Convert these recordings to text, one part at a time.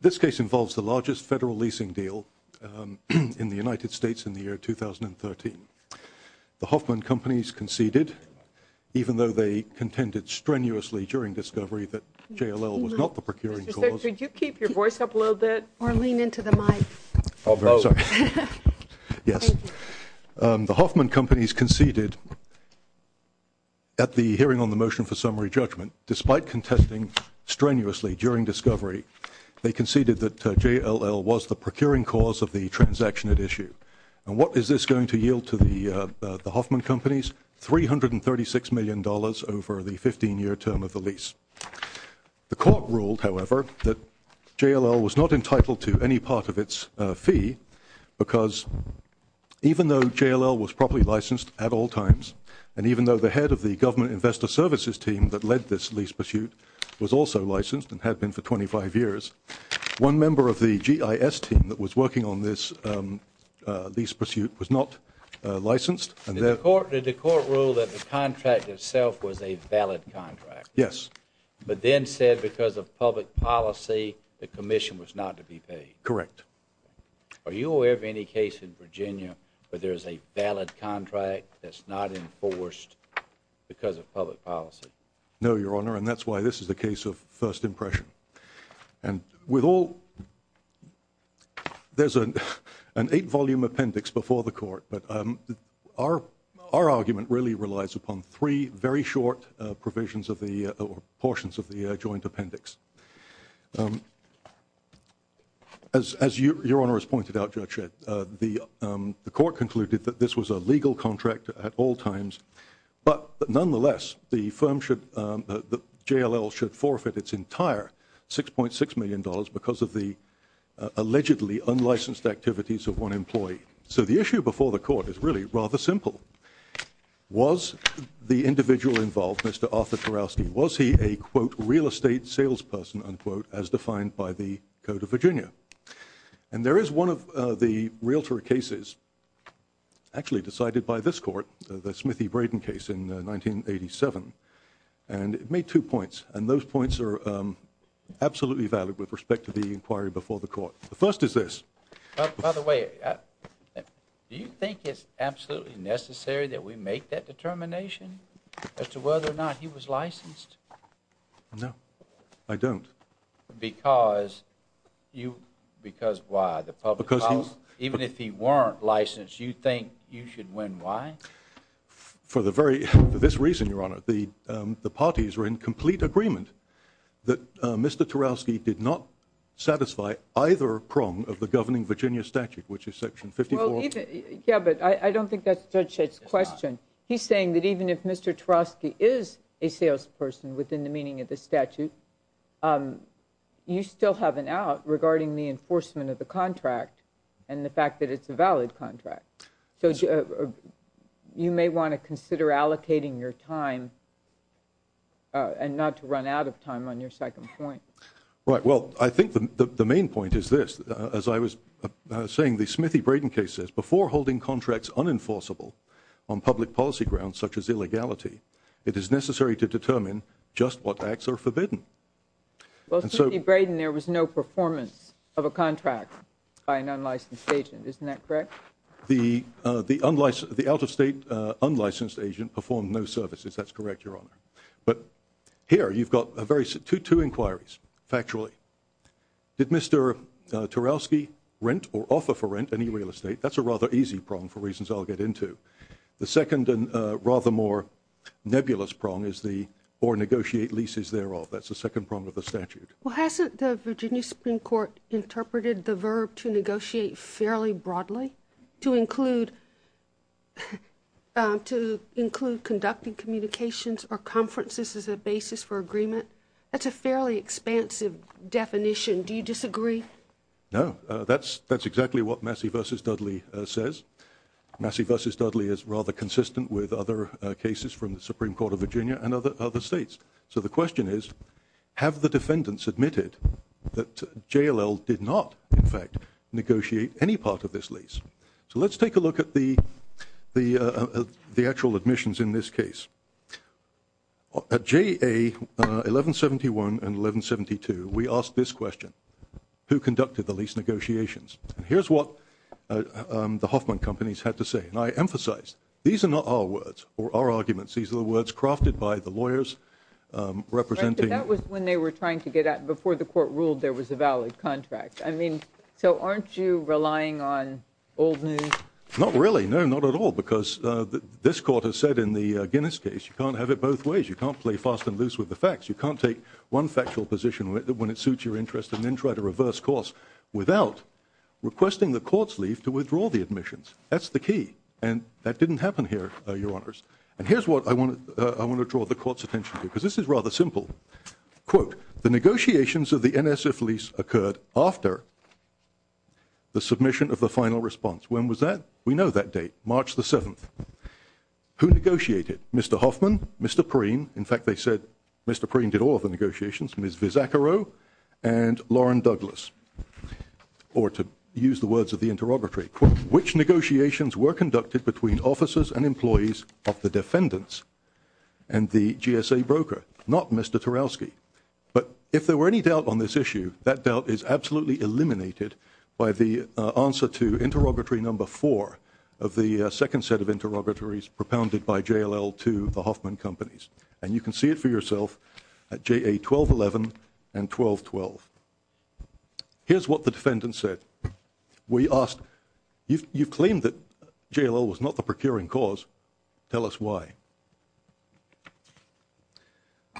This case involves the largest federal leasing deal in the United States in the year 2013. The Hoffman companies conceded, even though they contended strenuously during discovery that JLL was not the procuring cause. The Hoffman companies conceded at the hearing on the motion for summary judgment, despite contesting strenuously during discovery, they conceded that JLL was the procuring cause of the transaction at issue. And what is this going to yield to the Hoffman companies? $336 million over the 15-year term of the lease. The court ruled, however, that JLL was not entitled to any part of its fee, because even though JLL was properly licensed at all times, and even though the head of the Government Investor Services team that led this lease pursuit was also licensed and had been for 25 years, one member of the GIS team that was working on this lease pursuit was not licensed. Did the court rule that the contract itself was a valid contract? Yes. But then said because of public policy, the commission was not to be paid? Correct. Are you aware of any case in Virginia where there is a valid contract that's not enforced because of public policy? No, Your Honor, and that's why this is a case of first impression. And with all... There's an eight-volume appendix before the court, but our argument really relies upon three very short portions of the joint appendix. As Your Honor has pointed out, Judge Shedd, the court concluded that this was a legal contract at all times, but nonetheless, the firm should... JLL should forfeit its entire $6.6 million because of the allegedly unlicensed activities of one employee. So the issue before the court is really rather simple. Was the individual involved, Mr. Arthur Tarowski, was he a, quote, real estate salesperson, unquote, as defined by the Code of Virginia? And there is one of the realtor cases actually decided by this court, the Smithy Braden case in 1987, and it made two points, and those points are absolutely valid with respect to the inquiry before the court. The first is this. By the way, do you think it's absolutely necessary that we make that determination as to whether or not he was licensed? No, I don't. Because you... Because why? The public policy? Because he's... Even if he weren't licensed, you think you should win why? For the very... For this reason, Your Honor, the parties were in complete agreement that Mr. Tarowski did not satisfy either prong of the governing Virginia statute, which is Section 54... Well, even... Yeah, but I don't think that's Judge Schitt's question. He's saying that even if Mr. Tarowski is a salesperson within the meaning of the statute, you still have an out regarding the enforcement of the contract and the fact that it's a valid contract. So you may want to consider allocating your time and not to run out of time on your second point. Right. Well, I think the main point is this. As I was saying, the Smithy Braden case says, before holding contracts unenforceable on public policy grounds such as illegality, it is necessary to determine just what acts are forbidden. Well, Smithy Braden, there was no performance of a contract by an unlicensed agent. Isn't that correct? The out-of-state unlicensed agent performed no services. That's correct, Your Honor. But here, you've got two inquiries, factually. Did Mr. Tarowski rent or offer for rent any real estate? That's a rather easy prong for reasons I'll get into. The second and rather more nebulous prong is the, or negotiate leases thereof. That's the second prong of the statute. Well, hasn't the Virginia Supreme Court interpreted the verb to negotiate fairly broadly, to include conducting communications or conferences as a basis for agreement? That's a fairly expansive definition. Do you disagree? No. That's exactly what Massey v. Dudley says. Massey v. Dudley is rather consistent with other cases from the Supreme Court of Virginia and other states. So the question is, have the defendants admitted that JLL did not, in fact, negotiate any part of this lease? So let's take a look at the actual admissions in this case. At JA 1171 and 1172, we asked this question. Who conducted the lease negotiations? And here's what the Hoffman companies had to say. And I emphasize, these are not our words or our arguments. These are the words crafted by the lawyers representing. But that was when they were trying to get out, before the court ruled there was a valid contract. I mean, so aren't you relying on old news? Not really. No, not at all. Because this court has said in the Guinness case, you can't have it both ways. You can't play fast and loose with the facts. You can't take one factual position when it suits your interest and then try to reverse course without requesting the court's leave to withdraw the admissions. That's the key. And that didn't happen here, Your Honors. And here's what I want to draw the court's attention to, because this is rather simple. Quote, the negotiations of the NSF lease occurred after the submission of the final response. When was that? We know that date, March the 7th. Who negotiated? Mr. Hoffman, Mr. Preen. In fact, they said Mr. Preen did all of the negotiations. Ms. Vizzaccaro and Lauren Douglas, or to use the words of the interrogatory. Quote, which negotiations were conducted between officers and employees of the defendants and the GSA broker? Not Mr. Tarowski. But if there were any doubt on this issue, that doubt is absolutely eliminated by the answer to interrogatory number four of the second set of interrogatories propounded by JLL to the Hoffman companies. And you can see it for yourself at JA 1211 and 1212. Here's what the defendants said. We asked, you've claimed that JLL was not the procuring cause. Tell us why.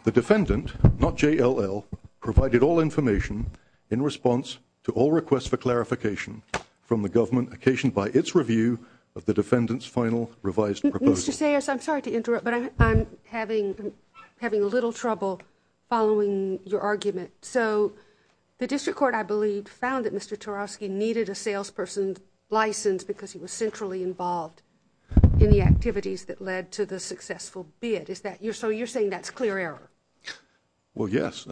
The defendant, not JLL, provided all information in response to all requests for clarification from the government occasioned by its review of the defendant's final revised proposal. Mr. Sayers, I'm sorry to interrupt, but I'm having a little trouble following your argument. So the district court, I believe, found that Mr. Tarowski needed a salesperson's license because he was centrally involved in the activities that led to the successful bid. So you're saying that's clear error? Well, yes.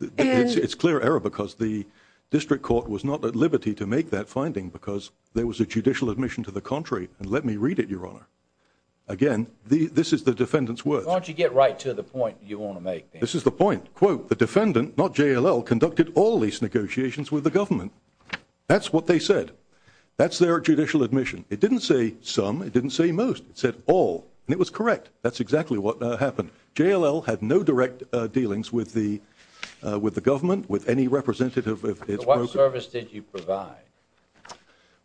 It's clear error because the district court was not at liberty to make that finding because there was a judicial admission to the contrary. And let me read it, Your Honor. Again, this is the defendant's words. Why don't you get right to the point you want to make? This is the point. Quote, the defendant, not JLL, conducted all lease negotiations with the government. That's what they said. That's their judicial admission. It didn't say some. It didn't say most. It said all. And it was correct. That's exactly what happened. JLL had no direct dealings with the government, with any representative of its broker. So what service did you provide?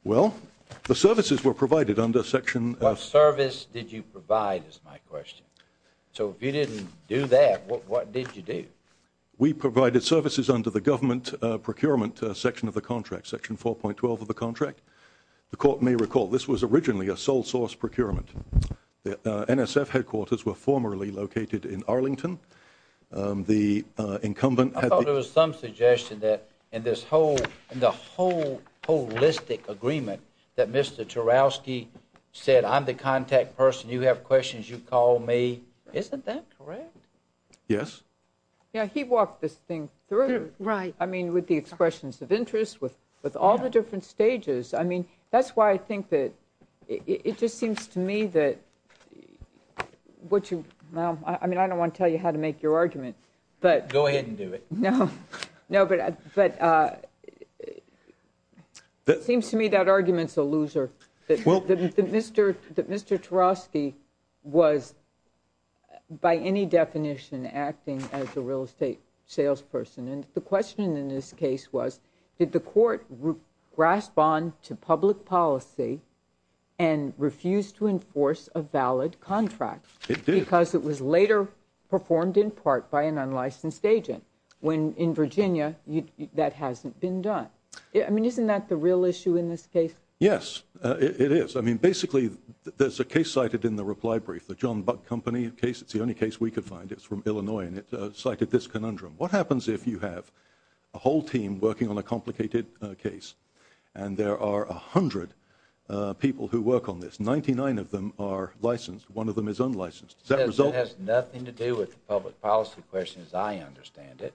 Well, the services were provided under Section… What service did you provide is my question. So if you didn't do that, what did you do? We provided services under the government procurement section of the contract, Section 4.12 of the contract. The court may recall this was originally a sole source procurement. The NSF headquarters were formerly located in Arlington. The incumbent… I thought it was some suggestion that in this whole holistic agreement that Mr. Tarowski said, I'm the contact person, you have questions, you call me. Isn't that correct? Yes. Yeah, he walked this thing through. Right. I mean, with the expressions of interest, with all the different stages. I mean, that's why I think that it just seems to me that what you… I mean, I don't want to tell you how to make your argument, but… Go ahead and do it. No, but it seems to me that argument's a loser. Well… That Mr. Tarowski was, by any definition, acting as a real estate salesperson. And the question in this case was, did the court grasp on to public policy and refuse to enforce a valid contract? It did. Because it was later performed in part by an unlicensed agent. When, in Virginia, that hasn't been done. I mean, isn't that the real issue in this case? Yes, it is. I mean, basically, there's a case cited in the reply brief, the John Buck Company case. It's the only case we could find. It's from Illinois, and it cited this conundrum. What happens if you have a whole team working on a complicated case, and there are a hundred people who work on this? Ninety-nine of them are licensed. One of them is unlicensed. Does that result… It has nothing to do with the public policy question as I understand it.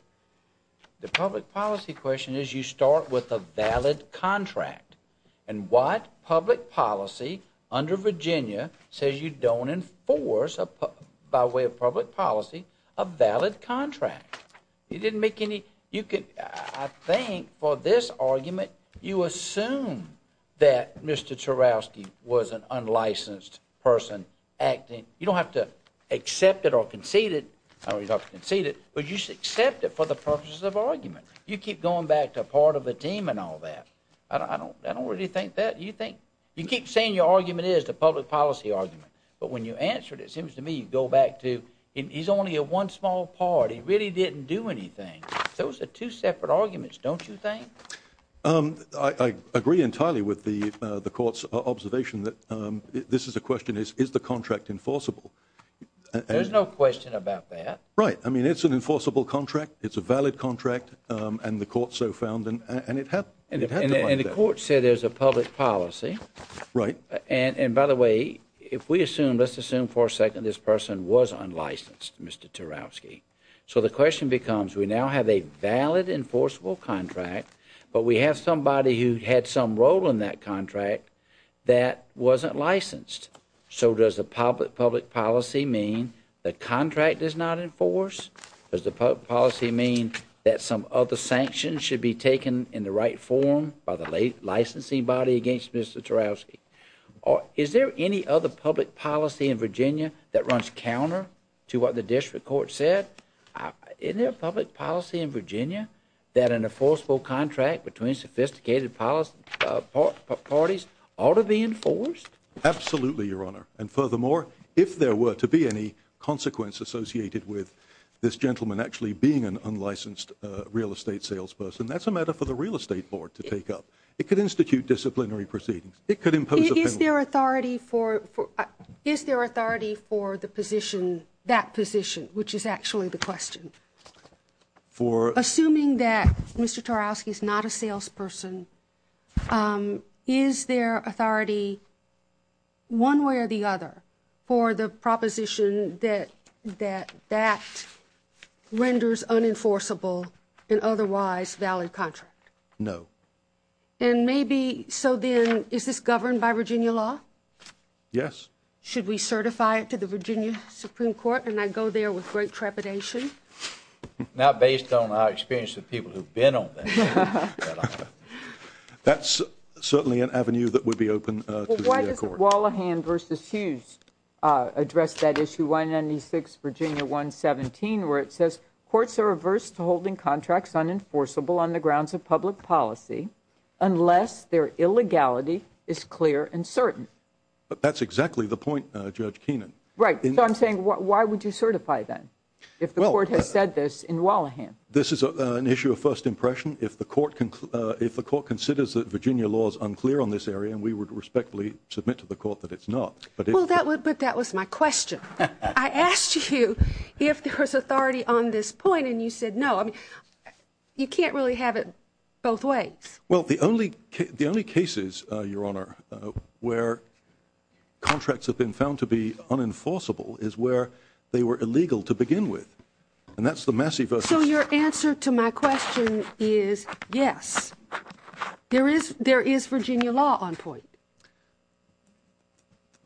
The public policy question is you start with a valid contract. And what public policy under Virginia says you don't enforce, by way of public policy, a valid contract? You didn't make any… I think, for this argument, you assume that Mr. Tarowski was an unlicensed person acting. You don't have to accept it or concede it. You don't have to concede it, but you should accept it for the purposes of argument. You keep going back to part of the team and all that. I don't really think that. You keep saying your argument is the public policy argument. But when you answer it, it seems to me you go back to he's only a one small part. He really didn't do anything. Those are two separate arguments, don't you think? I agree entirely with the court's observation that this is a question, is the contract enforceable? There's no question about that. Right. I mean, it's an enforceable contract. It's a valid contract. And the court so found, and it had to… And the court said there's a public policy. Right. And, by the way, if we assume, let's assume for a second this person was unlicensed, Mr. Tarowski. So the question becomes, we now have a valid enforceable contract, but we have somebody who had some role in that contract that wasn't licensed. So does the public policy mean the contract is not enforced? Does the public policy mean that some other sanctions should be taken in the right form by the licensing body against Mr. Tarowski? Is there any other public policy in Virginia that runs counter to what the district court said? Isn't there a public policy in Virginia that an enforceable contract between sophisticated parties ought to be enforced? Absolutely, Your Honor. And furthermore, if there were to be any consequence associated with this gentleman actually being an unlicensed real estate salesperson, that's a matter for the real estate board to take up. It could institute disciplinary proceedings. It could impose a penalty. Is there authority for the position, that position, which is actually the question? Assuming that Mr. Tarowski is not a salesperson, is there authority one way or the other for the proposition that that renders unenforceable an otherwise valid contract? No. And maybe, so then, is this governed by Virginia law? Yes. Should we certify it to the Virginia Supreme Court? And I go there with great trepidation. Not based on my experience with people who've been on that. That's certainly an avenue that would be open to the court. Wallahan v. Hughes addressed that issue, 196 Virginia 117, where it says, courts are averse to holding contracts unenforceable on the grounds of public policy unless their illegality is clear and certain. That's exactly the point, Judge Keenan. Right. So I'm saying, why would you certify that if the court has said this in Wallahan? This is an issue of first impression. If the court considers that Virginia law is unclear on this area, and we would respectfully submit to the court that it's not. But that was my question. I asked you if there was authority on this point, and you said no. I mean, you can't really have it both ways. Well, the only cases, Your Honor, where contracts have been found to be unenforceable is where they were illegal to begin with. And that's the Massey v. So your answer to my question is yes. There is Virginia law on point.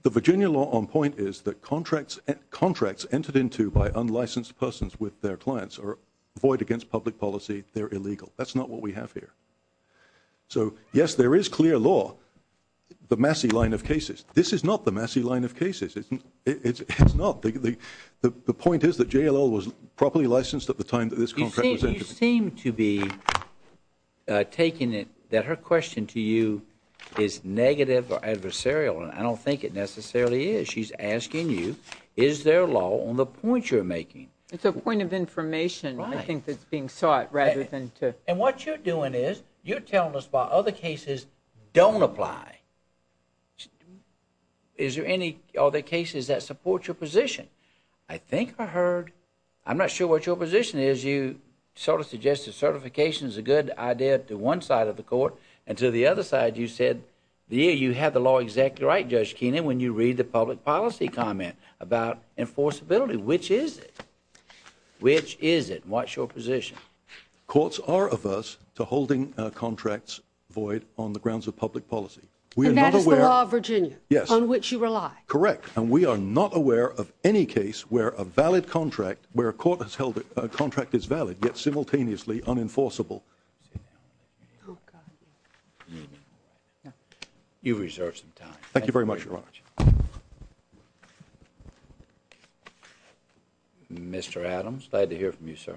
The Virginia law on point is that contracts entered into by unlicensed persons with their clients are void against public policy. They're illegal. That's not what we have here. So, yes, there is clear law. The Massey line of cases. This is not the Massey line of cases. It's not. The point is that JLL was properly licensed at the time that this contract was entered. You seem to be taking it that her question to you is negative or adversarial, and I don't think it necessarily is. She's asking you, is there law on the point you're making? It's a point of information, I think, that's being sought rather than to – And what you're doing is you're telling us why other cases don't apply. Is there any other cases that support your position? I think I heard – I'm not sure what your position is. You sort of suggested certification is a good idea to one side of the court, and to the other side you said you had the law exactly right, Judge Keenan, when you read the public policy comment about enforceability. Which is it? Which is it? What's your position? Courts are averse to holding contracts void on the grounds of public policy. And that is the law of Virginia? Yes. On which you rely? Correct. And we are not aware of any case where a valid contract – where a court has held that a contract is valid, yet simultaneously unenforceable. You've reserved some time. Thank you very much, Your Honor. Mr. Adams, glad to hear from you, sir.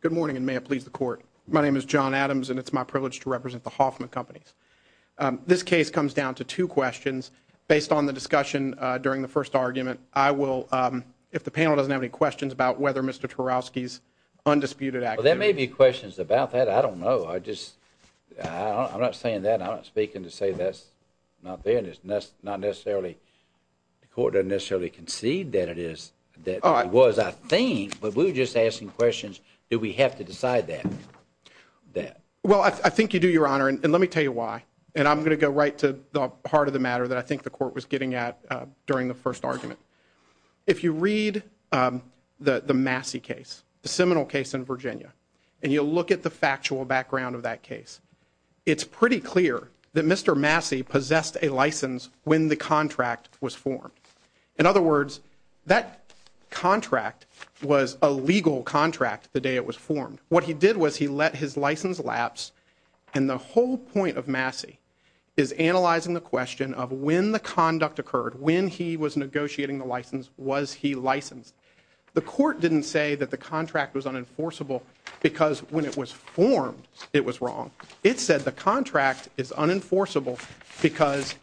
Good morning, and may it please the court. My name is John Adams, and it's my privilege to represent the Hoffman Companies. This case comes down to two questions. Based on the discussion during the first argument, I will – if the panel doesn't have any questions about whether Mr. Tarowski's undisputed – Well, there may be questions about that. I don't know. I just – I'm not saying that. I'm not speaking to say that's not there. And it's not necessarily – the court doesn't necessarily concede that it is – that it was. But I think – but we were just asking questions, do we have to decide that? Well, I think you do, Your Honor, and let me tell you why. And I'm going to go right to the heart of the matter that I think the court was getting at during the first argument. If you read the Massey case, the Seminole case in Virginia, and you look at the factual background of that case, it's pretty clear that Mr. Massey possessed a license when the contract was formed. In other words, that contract was a legal contract the day it was formed. What he did was he let his license lapse, and the whole point of Massey is analyzing the question of when the conduct occurred. When he was negotiating the license, was he licensed? The court didn't say that the contract was unenforceable because when it was formed, it was wrong. It said the contract is unenforceable because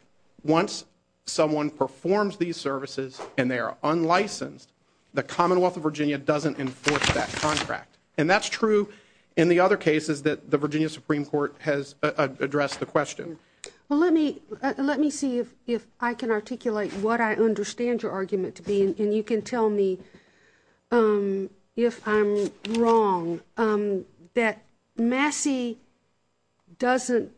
once someone performs these services and they are unlicensed, the Commonwealth of Virginia doesn't enforce that contract. And that's true in the other cases that the Virginia Supreme Court has addressed the question. Well, let me see if I can articulate what I understand your argument to be, and you can tell me if I'm wrong, that Massey doesn't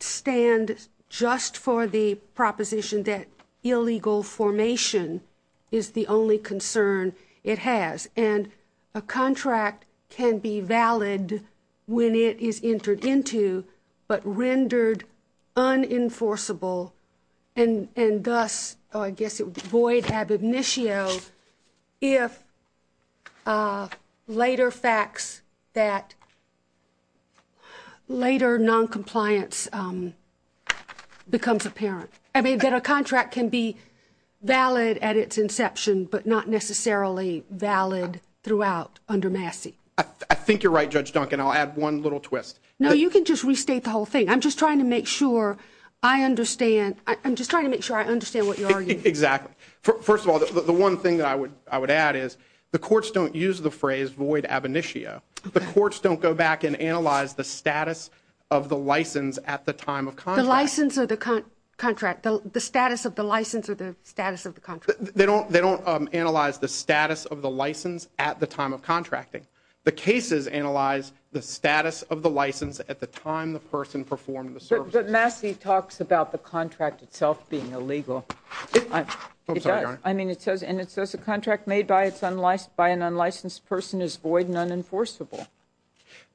stand just for the proposition that illegal formation is the only concern it has. And a contract can be valid when it is entered into, but rendered unenforceable and thus, I guess, void ab initio, if later facts that later noncompliance becomes apparent. I mean, that a contract can be valid at its inception, but not necessarily valid throughout under Massey. I think you're right, Judge Duncan. I'll add one little twist. No, you can just restate the whole thing. I'm just trying to make sure I understand. I'm just trying to make sure I understand what you're arguing. Exactly. First of all, the one thing that I would add is the courts don't use the phrase void ab initio. The courts don't go back and analyze the status of the license at the time of contract. The status of the license or the status of the contract. They don't analyze the status of the license at the time of contracting. The cases analyze the status of the license at the time the person performed the service. But Massey talks about the contract itself being illegal. I'm sorry, Your Honor. I mean, it says a contract made by an unlicensed person is void and unenforceable.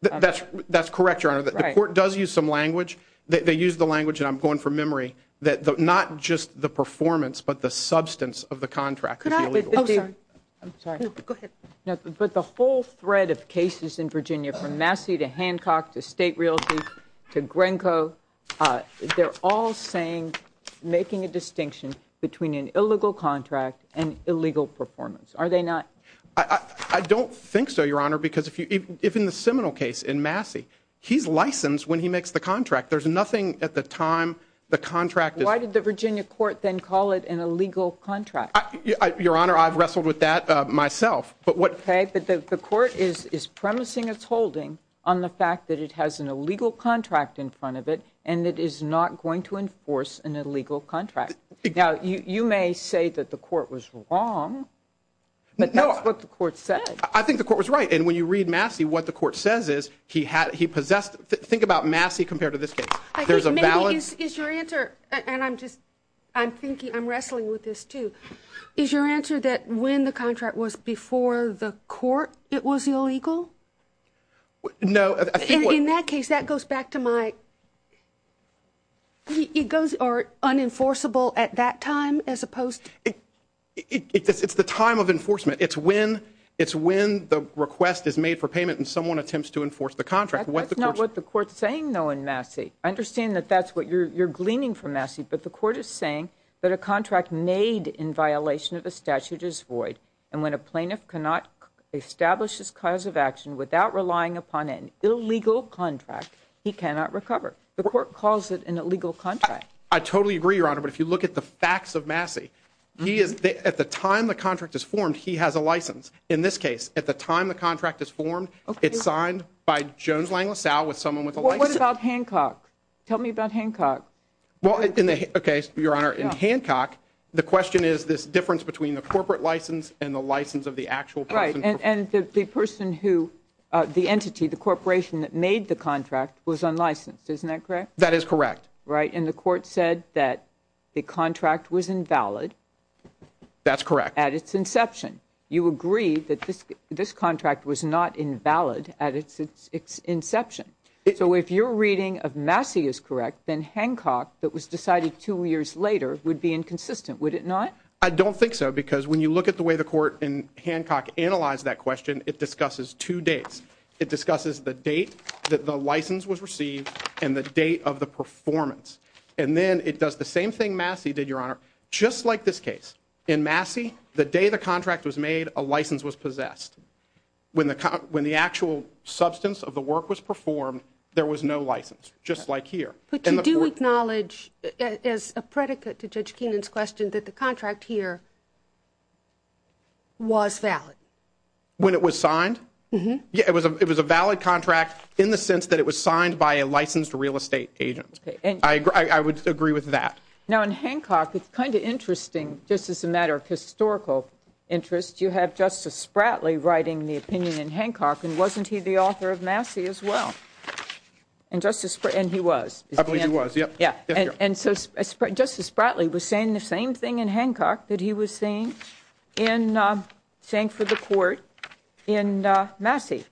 That's correct, Your Honor. The court does use some language. They use the language, and I'm going from memory, that not just the performance but the substance of the contract could be illegal. Oh, sorry. I'm sorry. Go ahead. But the whole thread of cases in Virginia from Massey to Hancock to state realty to Grenco, they're all saying making a distinction between an illegal contract and illegal performance. Are they not? I don't think so, Your Honor. Because if in the Seminole case in Massey, he's licensed when he makes the contract. There's nothing at the time the contract is. Why did the Virginia court then call it an illegal contract? Your Honor, I've wrestled with that myself. Okay. But the court is premising its holding on the fact that it has an illegal contract in front of it and it is not going to enforce an illegal contract. Now, you may say that the court was wrong, but that's what the court said. I think the court was right. And when you read Massey, what the court says is he possessed. Think about Massey compared to this case. There's a balance. Is your answer, and I'm just, I'm thinking, I'm wrestling with this too. Is your answer that when the contract was before the court, it was illegal? No. In that case, that goes back to my, it goes unenforceable at that time as opposed to. It's the time of enforcement. It's when the request is made for payment and someone attempts to enforce the contract. That's not what the court's saying, though, in Massey. I understand that that's what you're gleaning from Massey, but the court is saying that a contract made in violation of the statute is void, and when a plaintiff cannot establish his cause of action without relying upon an illegal contract, he cannot recover. The court calls it an illegal contract. I totally agree, Your Honor, but if you look at the facts of Massey, he is, at the time the contract is formed, he has a license. In this case, at the time the contract is formed, it's signed by Jones Lang LaSalle with someone with a license. Well, what about Hancock? Tell me about Hancock. Well, in the, okay, Your Honor, in Hancock, the question is this difference between the corporate license and the license of the actual person. Right, and the person who, the entity, the corporation that made the contract was unlicensed. Isn't that correct? That is correct. Right, and the court said that the contract was invalid. That's correct. At its inception. You agree that this contract was not invalid at its inception. So if your reading of Massey is correct, then Hancock that was decided two years later would be inconsistent, would it not? I don't think so, because when you look at the way the court in Hancock analyzed that question, it discusses two dates. It discusses the date that the license was received and the date of the performance. And then it does the same thing Massey did, Your Honor, just like this case. In Massey, the day the contract was made, a license was possessed. When the actual substance of the work was performed, there was no license, just like here. But you do acknowledge, as a predicate to Judge Keenan's question, that the contract here was valid. When it was signed? It was a valid contract in the sense that it was signed by a licensed real estate agent. I would agree with that. Now, in Hancock, it's kind of interesting, just as a matter of historical interest, you have Justice Spratley writing the opinion in Hancock, and wasn't he the author of Massey as well? And he was. I believe he was, yes. Justice Spratley was saying the same thing in Hancock that he was saying for the court in Massey.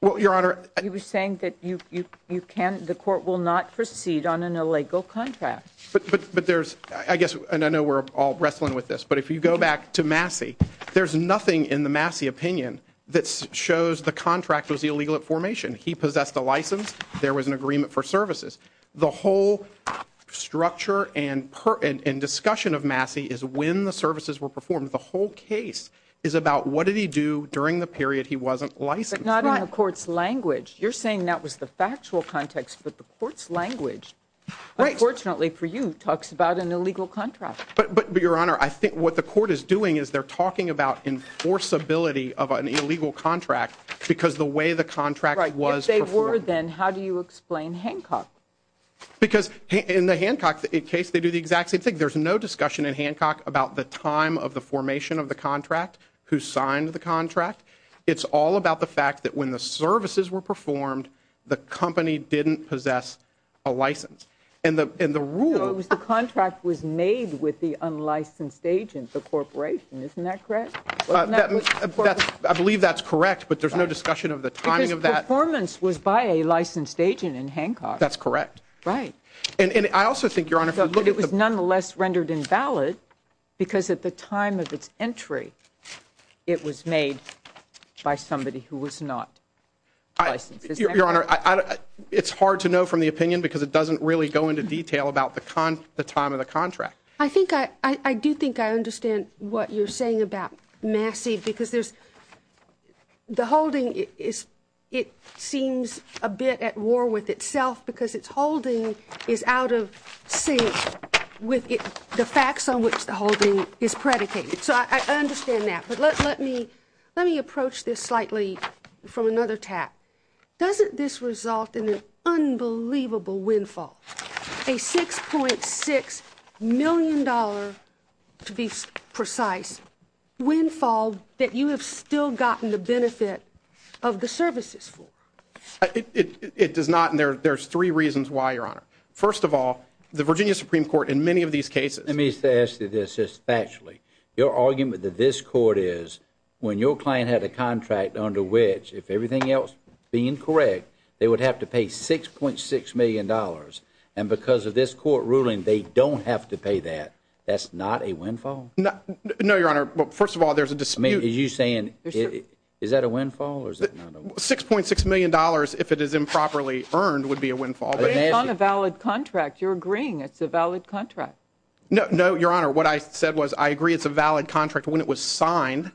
Well, Your Honor. He was saying that the court will not proceed on an illegal contract. But there's, I guess, and I know we're all wrestling with this, but if you go back to Massey, there's nothing in the Massey opinion that shows the contract was illegal at formation. He possessed a license. There was an agreement for services. The whole structure and discussion of Massey is when the services were performed. The whole case is about what did he do during the period he wasn't licensed. But not in the court's language. You're saying that was the factual context, but the court's language, unfortunately for you, talks about an illegal contract. But, Your Honor, I think what the court is doing is they're talking about enforceability of an illegal contract because the way the contract was performed. However, then, how do you explain Hancock? Because in the Hancock case, they do the exact same thing. There's no discussion in Hancock about the time of the formation of the contract, who signed the contract. It's all about the fact that when the services were performed, the company didn't possess a license. And the rule was the contract was made with the unlicensed agent, the corporation. Isn't that correct? I believe that's correct, but there's no discussion of the timing of that. The performance was by a licensed agent in Hancock. That's correct. Right. And I also think, Your Honor, if you look at the- But it was nonetheless rendered invalid because at the time of its entry, it was made by somebody who was not licensed. Isn't that correct? Your Honor, it's hard to know from the opinion because it doesn't really go into detail about the time of the contract. I think I-I do think I understand what you're saying about Massey because there's-the holding is-it seems a bit at war with itself because its holding is out of sync with the facts on which the holding is predicated. So I understand that. But let me-let me approach this slightly from another tap. Doesn't this result in an unbelievable windfall, a $6.6 million, to be precise, windfall that you have still gotten the benefit of the services for? It-it-it does not, and there-there's three reasons why, Your Honor. First of all, the Virginia Supreme Court in many of these cases- they would have to pay $6.6 million. And because of this court ruling, they don't have to pay that. That's not a windfall? No-no, Your Honor. Well, first of all, there's a dispute- I mean, are you saying it-is that a windfall or is that not a windfall? $6.6 million, if it is improperly earned, would be a windfall. But it's on a valid contract. You're agreeing it's a valid contract. No-no, Your Honor, what I said was I agree it's a valid contract when it was signed.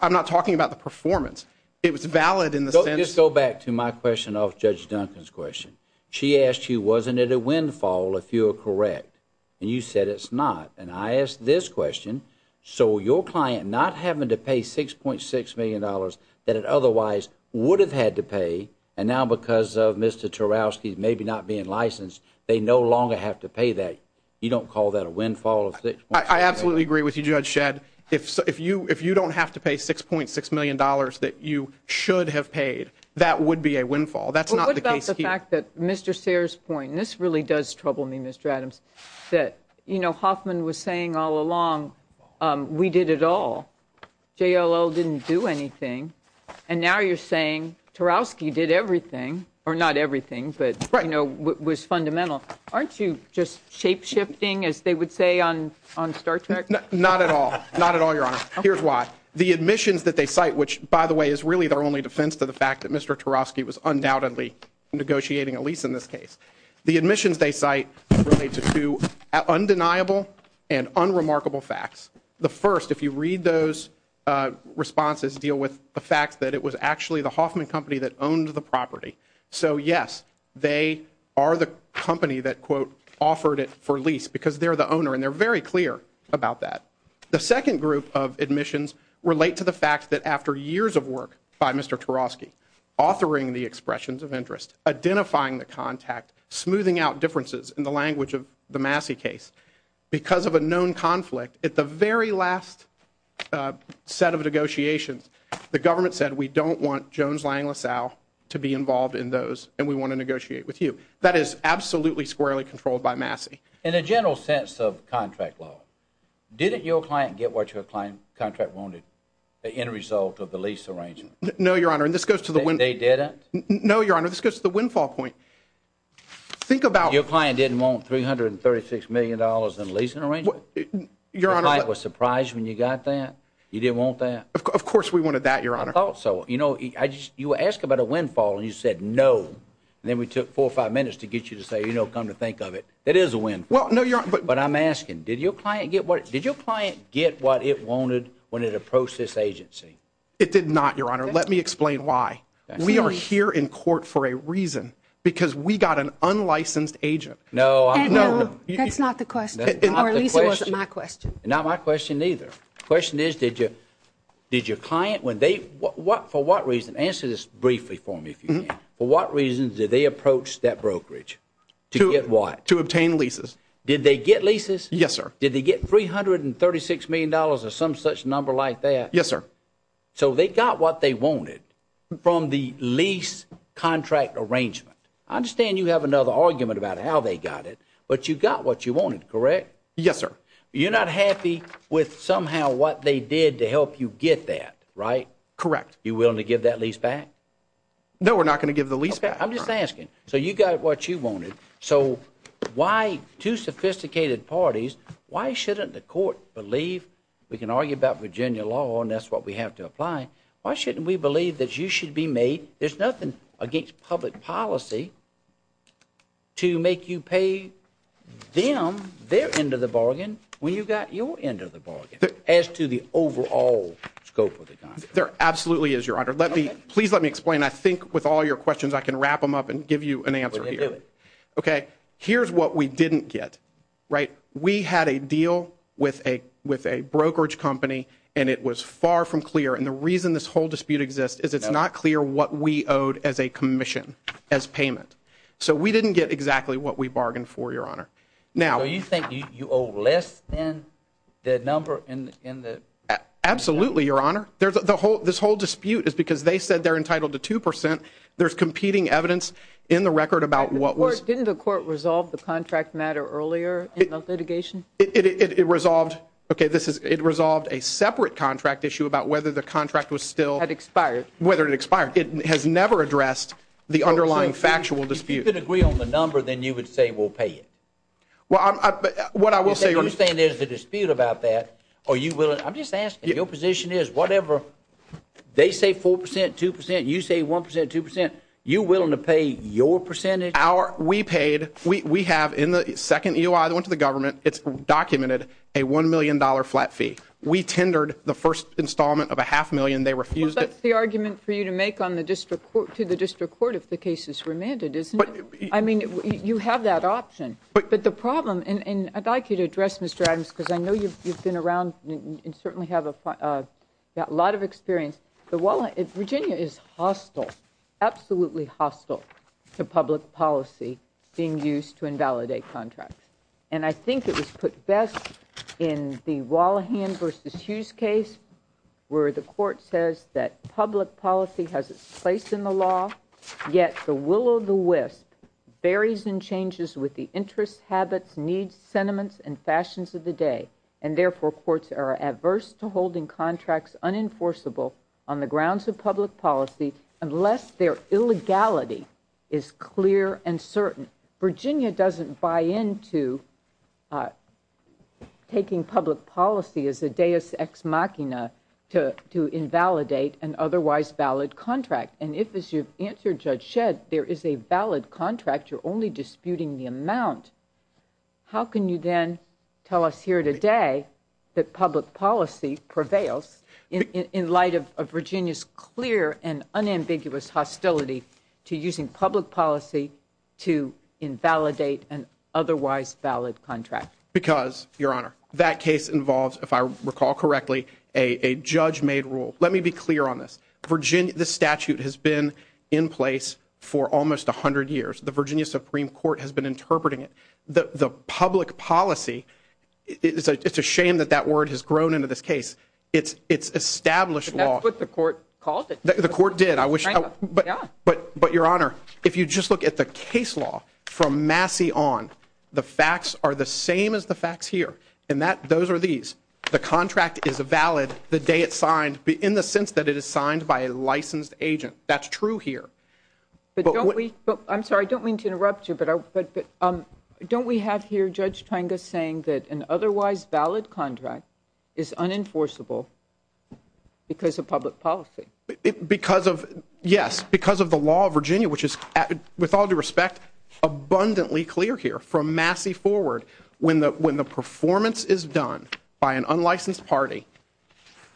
I'm not talking about the performance. It was valid in the sense- Just go back to my question of Judge Duncan's question. She asked you, wasn't it a windfall if you were correct? And you said it's not. And I asked this question. So your client not having to pay $6.6 million that it otherwise would have had to pay, and now because of Mr. Tarowski's maybe not being licensed, they no longer have to pay that, you don't call that a windfall of $6.6 million? I absolutely agree with you, Judge Shedd. If you don't have to pay $6.6 million that you should have paid, that would be a windfall. That's not the case here. What about the fact that Mr. Sayers' point, and this really does trouble me, Mr. Adams, that, you know, Hoffman was saying all along, we did it all. JLL didn't do anything. And now you're saying Tarowski did everything, or not everything, but, you know, was fundamental. Aren't you just shape-shifting, as they would say on Star Trek? Not at all. Not at all, Your Honor. Here's why. The admissions that they cite, which, by the way, is really their only defense to the fact that Mr. Tarowski was undoubtedly negotiating a lease in this case. The admissions they cite relate to two undeniable and unremarkable facts. The first, if you read those responses, deal with the fact that it was actually the Hoffman company that owned the property. So, yes, they are the company that, quote, offered it for lease because they're the owner, and they're very clear about that. The second group of admissions relate to the fact that after years of work by Mr. Tarowski, authoring the expressions of interest, identifying the contact, smoothing out differences in the language of the Massey case, because of a known conflict, at the very last set of negotiations, the government said, we don't want Jones, Lange, LaSalle to be involved in those, and we want to negotiate with you. That is absolutely squarely controlled by Massey. In a general sense of contract law, didn't your client get what your client contract wanted in result of the lease arrangement? No, Your Honor, and this goes to the windfall point. Think about it. Your client didn't want $336 million in a leasing arrangement? Your Honor. Your client was surprised when you got that? You didn't want that? Of course we wanted that, Your Honor. I thought so. You know, you asked about a windfall, and you said no, and then we took four or five minutes to get you to say, you know, come to think of it, that is a windfall. Well, no, Your Honor. But I'm asking, did your client get what it wanted when it approached this agency? It did not, Your Honor. Let me explain why. We are here in court for a reason, because we got an unlicensed agent. No. That's not the question, or at least it wasn't my question. Not my question either. The question is, did your client, for what reason? Answer this briefly for me, if you can. For what reason did they approach that brokerage? To get what? To obtain leases. Did they get leases? Yes, sir. Did they get $336 million or some such number like that? Yes, sir. So they got what they wanted from the lease contract arrangement. I understand you have another argument about how they got it, but you got what you wanted, correct? Yes, sir. You're not happy with somehow what they did to help you get that, right? Correct. You willing to give that lease back? No, we're not going to give the lease back. I'm just asking. So you got what you wanted. So why, two sophisticated parties, why shouldn't the court believe? We can argue about Virginia law, and that's what we have to apply. Why shouldn't we believe that you should be made? There's nothing against public policy to make you pay them their end of the bargain when you got your end of the bargain as to the overall scope of the contract. There absolutely is, Your Honor. Please let me explain. I think with all your questions, I can wrap them up and give you an answer here. Okay, here's what we didn't get, right? We had a deal with a brokerage company, and it was far from clear. And the reason this whole dispute exists is it's not clear what we owed as a commission, as payment. So we didn't get exactly what we bargained for, Your Honor. So you think you owe less than the number in the? Absolutely, Your Honor. This whole dispute is because they said they're entitled to 2%. There's competing evidence in the record about what was. Didn't the court resolve the contract matter earlier in the litigation? It resolved a separate contract issue about whether the contract was still. It expired. Whether it expired. It has never addressed the underlying factual dispute. If you could agree on the number, then you would say we'll pay it. What I will say. You're saying there's a dispute about that. I'm just asking. Your position is whatever they say 4%, 2%, you say 1%, 2%. You're willing to pay your percentage? We paid. We have in the second EOI that went to the government, it's documented a $1 million flat fee. We tendered the first installment of a half million. They refused it. Well, that's the argument for you to make to the district court if the case is remanded, isn't it? I mean, you have that option. But the problem, and I'd like you to address, Mr. Adams, because I know you've been around and certainly have a lot of experience. Virginia is hostile, absolutely hostile to public policy being used to invalidate contracts. And I think it was put best in the Wallahan v. Hughes case where the court says that public policy has its place in the law, yet the will of the wisp varies and changes with the interests, habits, needs, sentiments, and fashions of the day. And therefore, courts are adverse to holding contracts unenforceable on the grounds of public policy unless their illegality is clear and certain. Virginia doesn't buy into taking public policy as a deus ex machina to invalidate an otherwise valid contract. And if, as you've answered, Judge Shedd, there is a valid contract, you're only disputing the amount. How can you then tell us here today that public policy prevails in light of Virginia's clear and unambiguous hostility to using public policy to invalidate an otherwise valid contract? Because, Your Honor, that case involves, if I recall correctly, a judge-made rule. Let me be clear on this. This statute has been in place for almost 100 years. The Virginia Supreme Court has been interpreting it. The public policy, it's a shame that that word has grown into this case. It's established law. But that's what the court called it. The court did. But, Your Honor, if you just look at the case law from Massey on, the facts are the same as the facts here. And those are these. The contract is valid the day it's signed in the sense that it is signed by a licensed agent. That's true here. I'm sorry. I don't mean to interrupt you. But don't we have here Judge Tenga saying that an otherwise valid contract is unenforceable because of public policy? Yes, because of the law of Virginia, which is, with all due respect, abundantly clear here. From Massey forward, when the performance is done by an unlicensed party,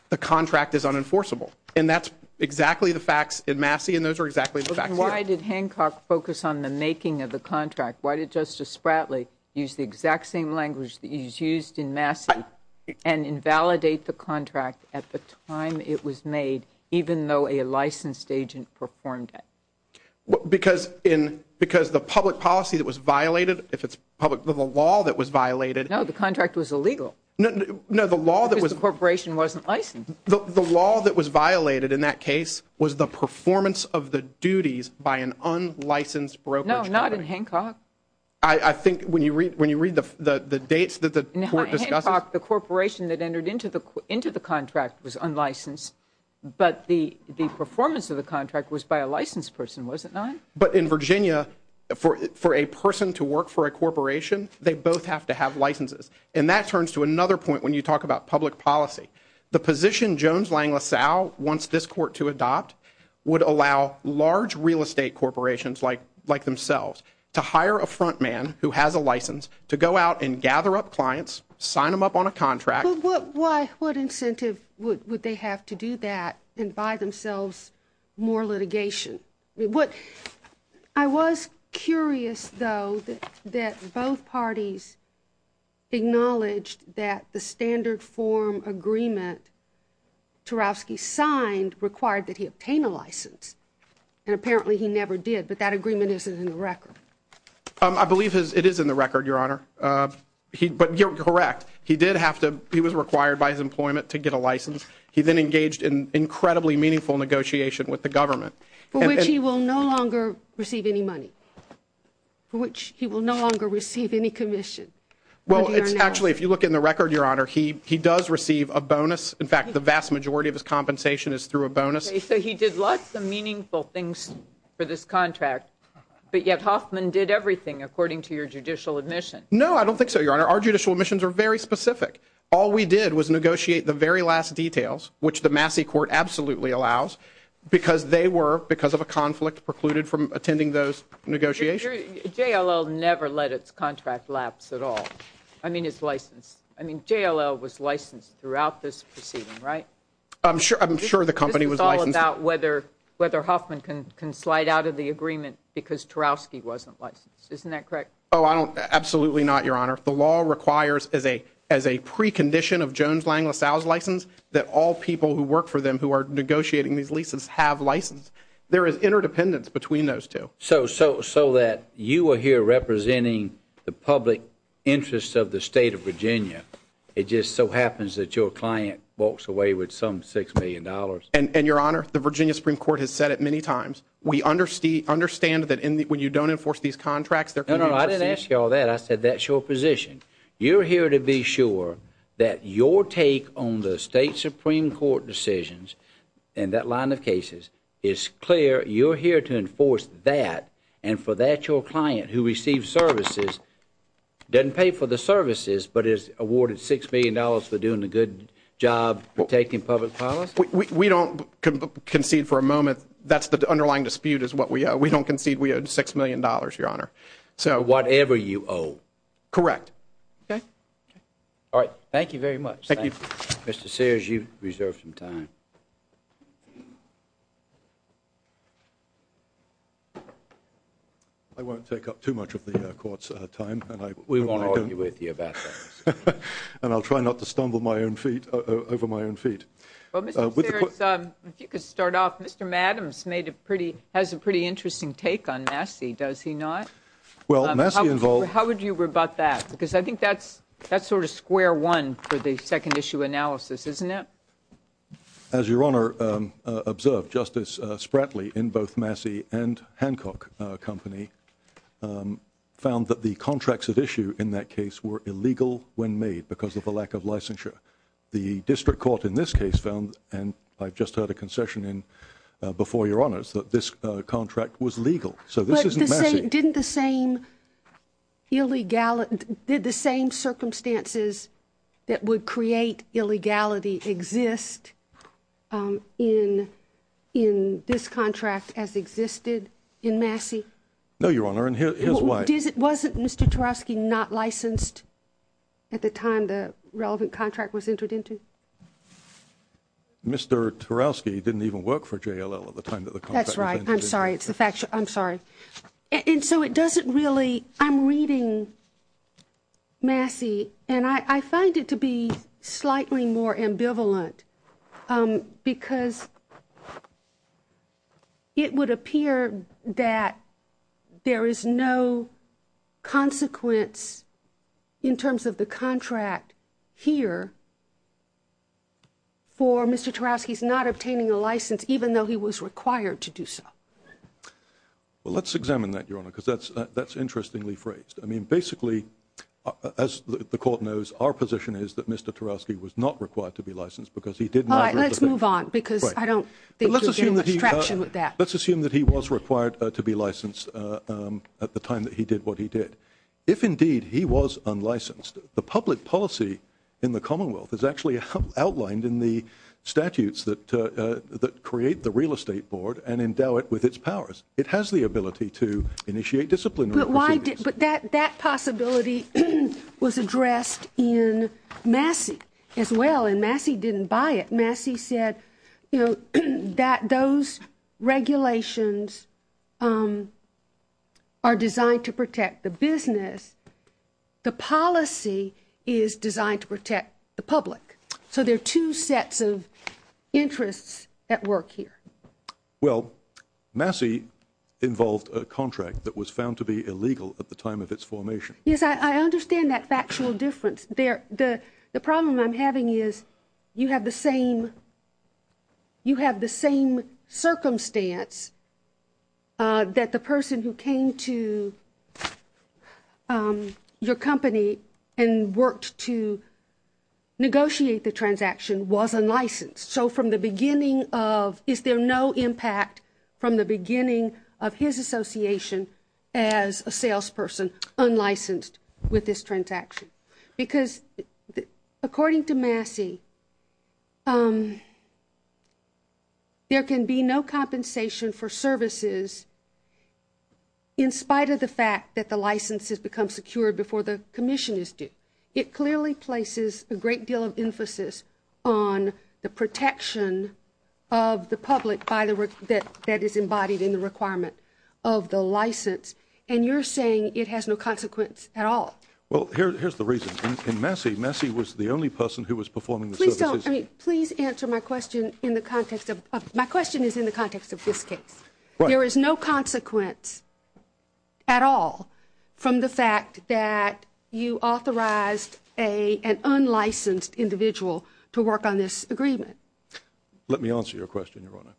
the contract is unenforceable. And that's exactly the facts in Massey, and those are exactly the facts here. Then why did Hancock focus on the making of the contract? Why did Justice Spratley use the exact same language that he's used in Massey and invalidate the contract at the time it was made, even though a licensed agent performed it? Because the public policy that was violated, if it's public, the law that was violated – No, the contract was illegal. No, the law that was – Because the corporation wasn't licensed. The law that was violated in that case was the performance of the duties by an unlicensed brokerage party. No, not in Hancock. I think when you read the dates that the court discussed – In Hancock, the corporation that entered into the contract was unlicensed, but the performance of the contract was by a licensed person, was it not? But in Virginia, for a person to work for a corporation, they both have to have licenses. And that turns to another point when you talk about public policy. The position Jones, Lang, LaSalle wants this court to adopt would allow large real estate corporations like themselves to hire a front man who has a license to go out and gather up clients, sign them up on a contract – But why – what incentive would they have to do that and buy themselves more litigation? I was curious, though, that both parties acknowledged that the standard form agreement Tarowski signed required that he obtain a license. And apparently he never did, but that agreement isn't in the record. I believe it is in the record, Your Honor. But you're correct. He did have to – he was required by his employment to get a license. He then engaged in incredibly meaningful negotiation with the government. For which he will no longer receive any money. For which he will no longer receive any commission. Well, it's actually – if you look in the record, Your Honor, he does receive a bonus. In fact, the vast majority of his compensation is through a bonus. So he did lots of meaningful things for this contract, but yet Hoffman did everything according to your judicial admission. No, I don't think so, Your Honor. Our judicial admissions are very specific. All we did was negotiate the very last details, which the Massey court absolutely allows, because they were, because of a conflict, precluded from attending those negotiations. JLL never let its contract lapse at all. I mean, it's licensed. I mean, JLL was licensed throughout this proceeding, right? I'm sure the company was licensed. This is all about whether Hoffman can slide out of the agreement because Tarowski wasn't licensed. Isn't that correct? Oh, I don't – absolutely not, Your Honor. The law requires, as a precondition of Jones-Lang-LaSalle's license, that all people who work for them who are negotiating these leases have license. There is interdependence between those two. So that you are here representing the public interest of the state of Virginia. It just so happens that your client walks away with some $6 million. And, Your Honor, the Virginia Supreme Court has said it many times. We understand that when you don't enforce these contracts, there could be – No, no, I didn't ask you all that. I said that's your position. You're here to be sure that your take on the state Supreme Court decisions and that line of cases is clear. You're here to enforce that. And for that, your client, who receives services, doesn't pay for the services but is awarded $6 million for doing a good job protecting public policy? We don't concede for a moment that's the underlying dispute is what we owe. We don't concede we owed $6 million, Your Honor. So whatever you owe. Correct. Okay. All right. Thank you very much. Thank you. Mr. Sears, you've reserved some time. I won't take up too much of the Court's time. We won't argue with you about that. And I'll try not to stumble over my own feet. Well, Mr. Sears, if you could start off. Mr. Adams has a pretty interesting take on Massey, does he not? How would you rebut that? Because I think that's sort of square one for the second-issue analysis, isn't it? As Your Honor observed, Justice Spratley in both Massey and Hancock Company found that the contracts at issue in that case were illegal when made because of a lack of licensure. The district court in this case found, and I've just heard a concession in before Your Honor, that this contract was legal. So this isn't Massey. But didn't the same circumstances that would create illegality exist in this contract as existed in Massey? No, Your Honor. And here's why. Wasn't Mr. Tarowski not licensed at the time the relevant contract was entered into? Mr. Tarowski didn't even work for JLL at the time that the contract was entered into. That's right. I'm sorry. I'm sorry. And so it doesn't really ‑‑ I'm reading Massey, and I find it to be slightly more ambivalent because it would appear that there is no consequence in terms of the contract here for Mr. Tarowski's not obtaining a license, even though he was required to do so. Well, let's examine that, Your Honor, because that's interestingly phrased. I mean, basically, as the court knows, our position is that Mr. Tarowski was not required to be licensed because he did not ‑‑ All right. Let's move on because I don't think you're getting much traction with that. Let's assume that he was required to be licensed at the time that he did what he did. If, indeed, he was unlicensed, the public policy in the Commonwealth is actually outlined in the statutes that create the Real Estate Board and endow it with its powers. It has the ability to initiate disciplinary proceedings. But that possibility was addressed in Massey as well, and Massey didn't buy it. Massey said, you know, that those regulations are designed to protect the business. The policy is designed to protect the public. So there are two sets of interests at work here. Well, Massey involved a contract that was found to be illegal at the time of its formation. Yes, I understand that factual difference. The problem I'm having is you have the same circumstance that the person who came to your company and worked to negotiate the transaction was unlicensed. So from the beginning of, is there no impact from the beginning of his association as a salesperson unlicensed with this transaction? Because according to Massey, there can be no compensation for services in spite of the fact that the license has become secured before the commission is due. It clearly places a great deal of emphasis on the protection of the public that is embodied in the requirement of the license. And you're saying it has no consequence at all. Well, here's the reason. In Massey, Massey was the only person who was performing the services. Please answer my question in the context of, my question is in the context of this case. There is no consequence at all from the fact that you authorized an unlicensed individual to work on this agreement. Let me answer your question, Your Honor.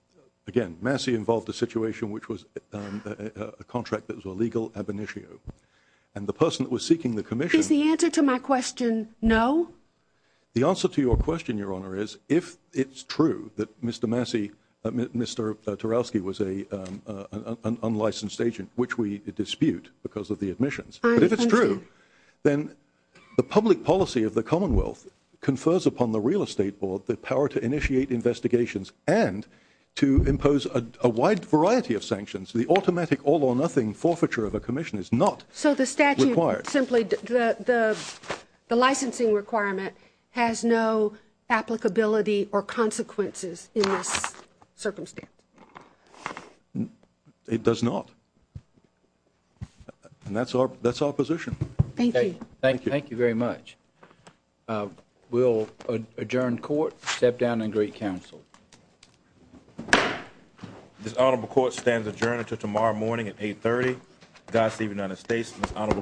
Again, Massey involved a situation which was a contract that was illegal ab initio. And the person that was seeking the commission... Is the answer to my question no? The answer to your question, Your Honor, is if it's true that Mr. Massey, Mr. Tarowski, was an unlicensed agent, which we dispute because of the admissions. But if it's true, then the public policy of the Commonwealth confers upon the Real Estate Board the power to initiate investigations and to impose a wide variety of sanctions. The automatic all or nothing forfeiture of a commission is not required. Simply, the licensing requirement has no applicability or consequences in this circumstance. It does not. And that's our position. Thank you. Thank you very much. We'll adjourn court, step down and greet counsel. This honorable court stands adjourned until tomorrow morning at 8.30. God save the United States and this honorable court.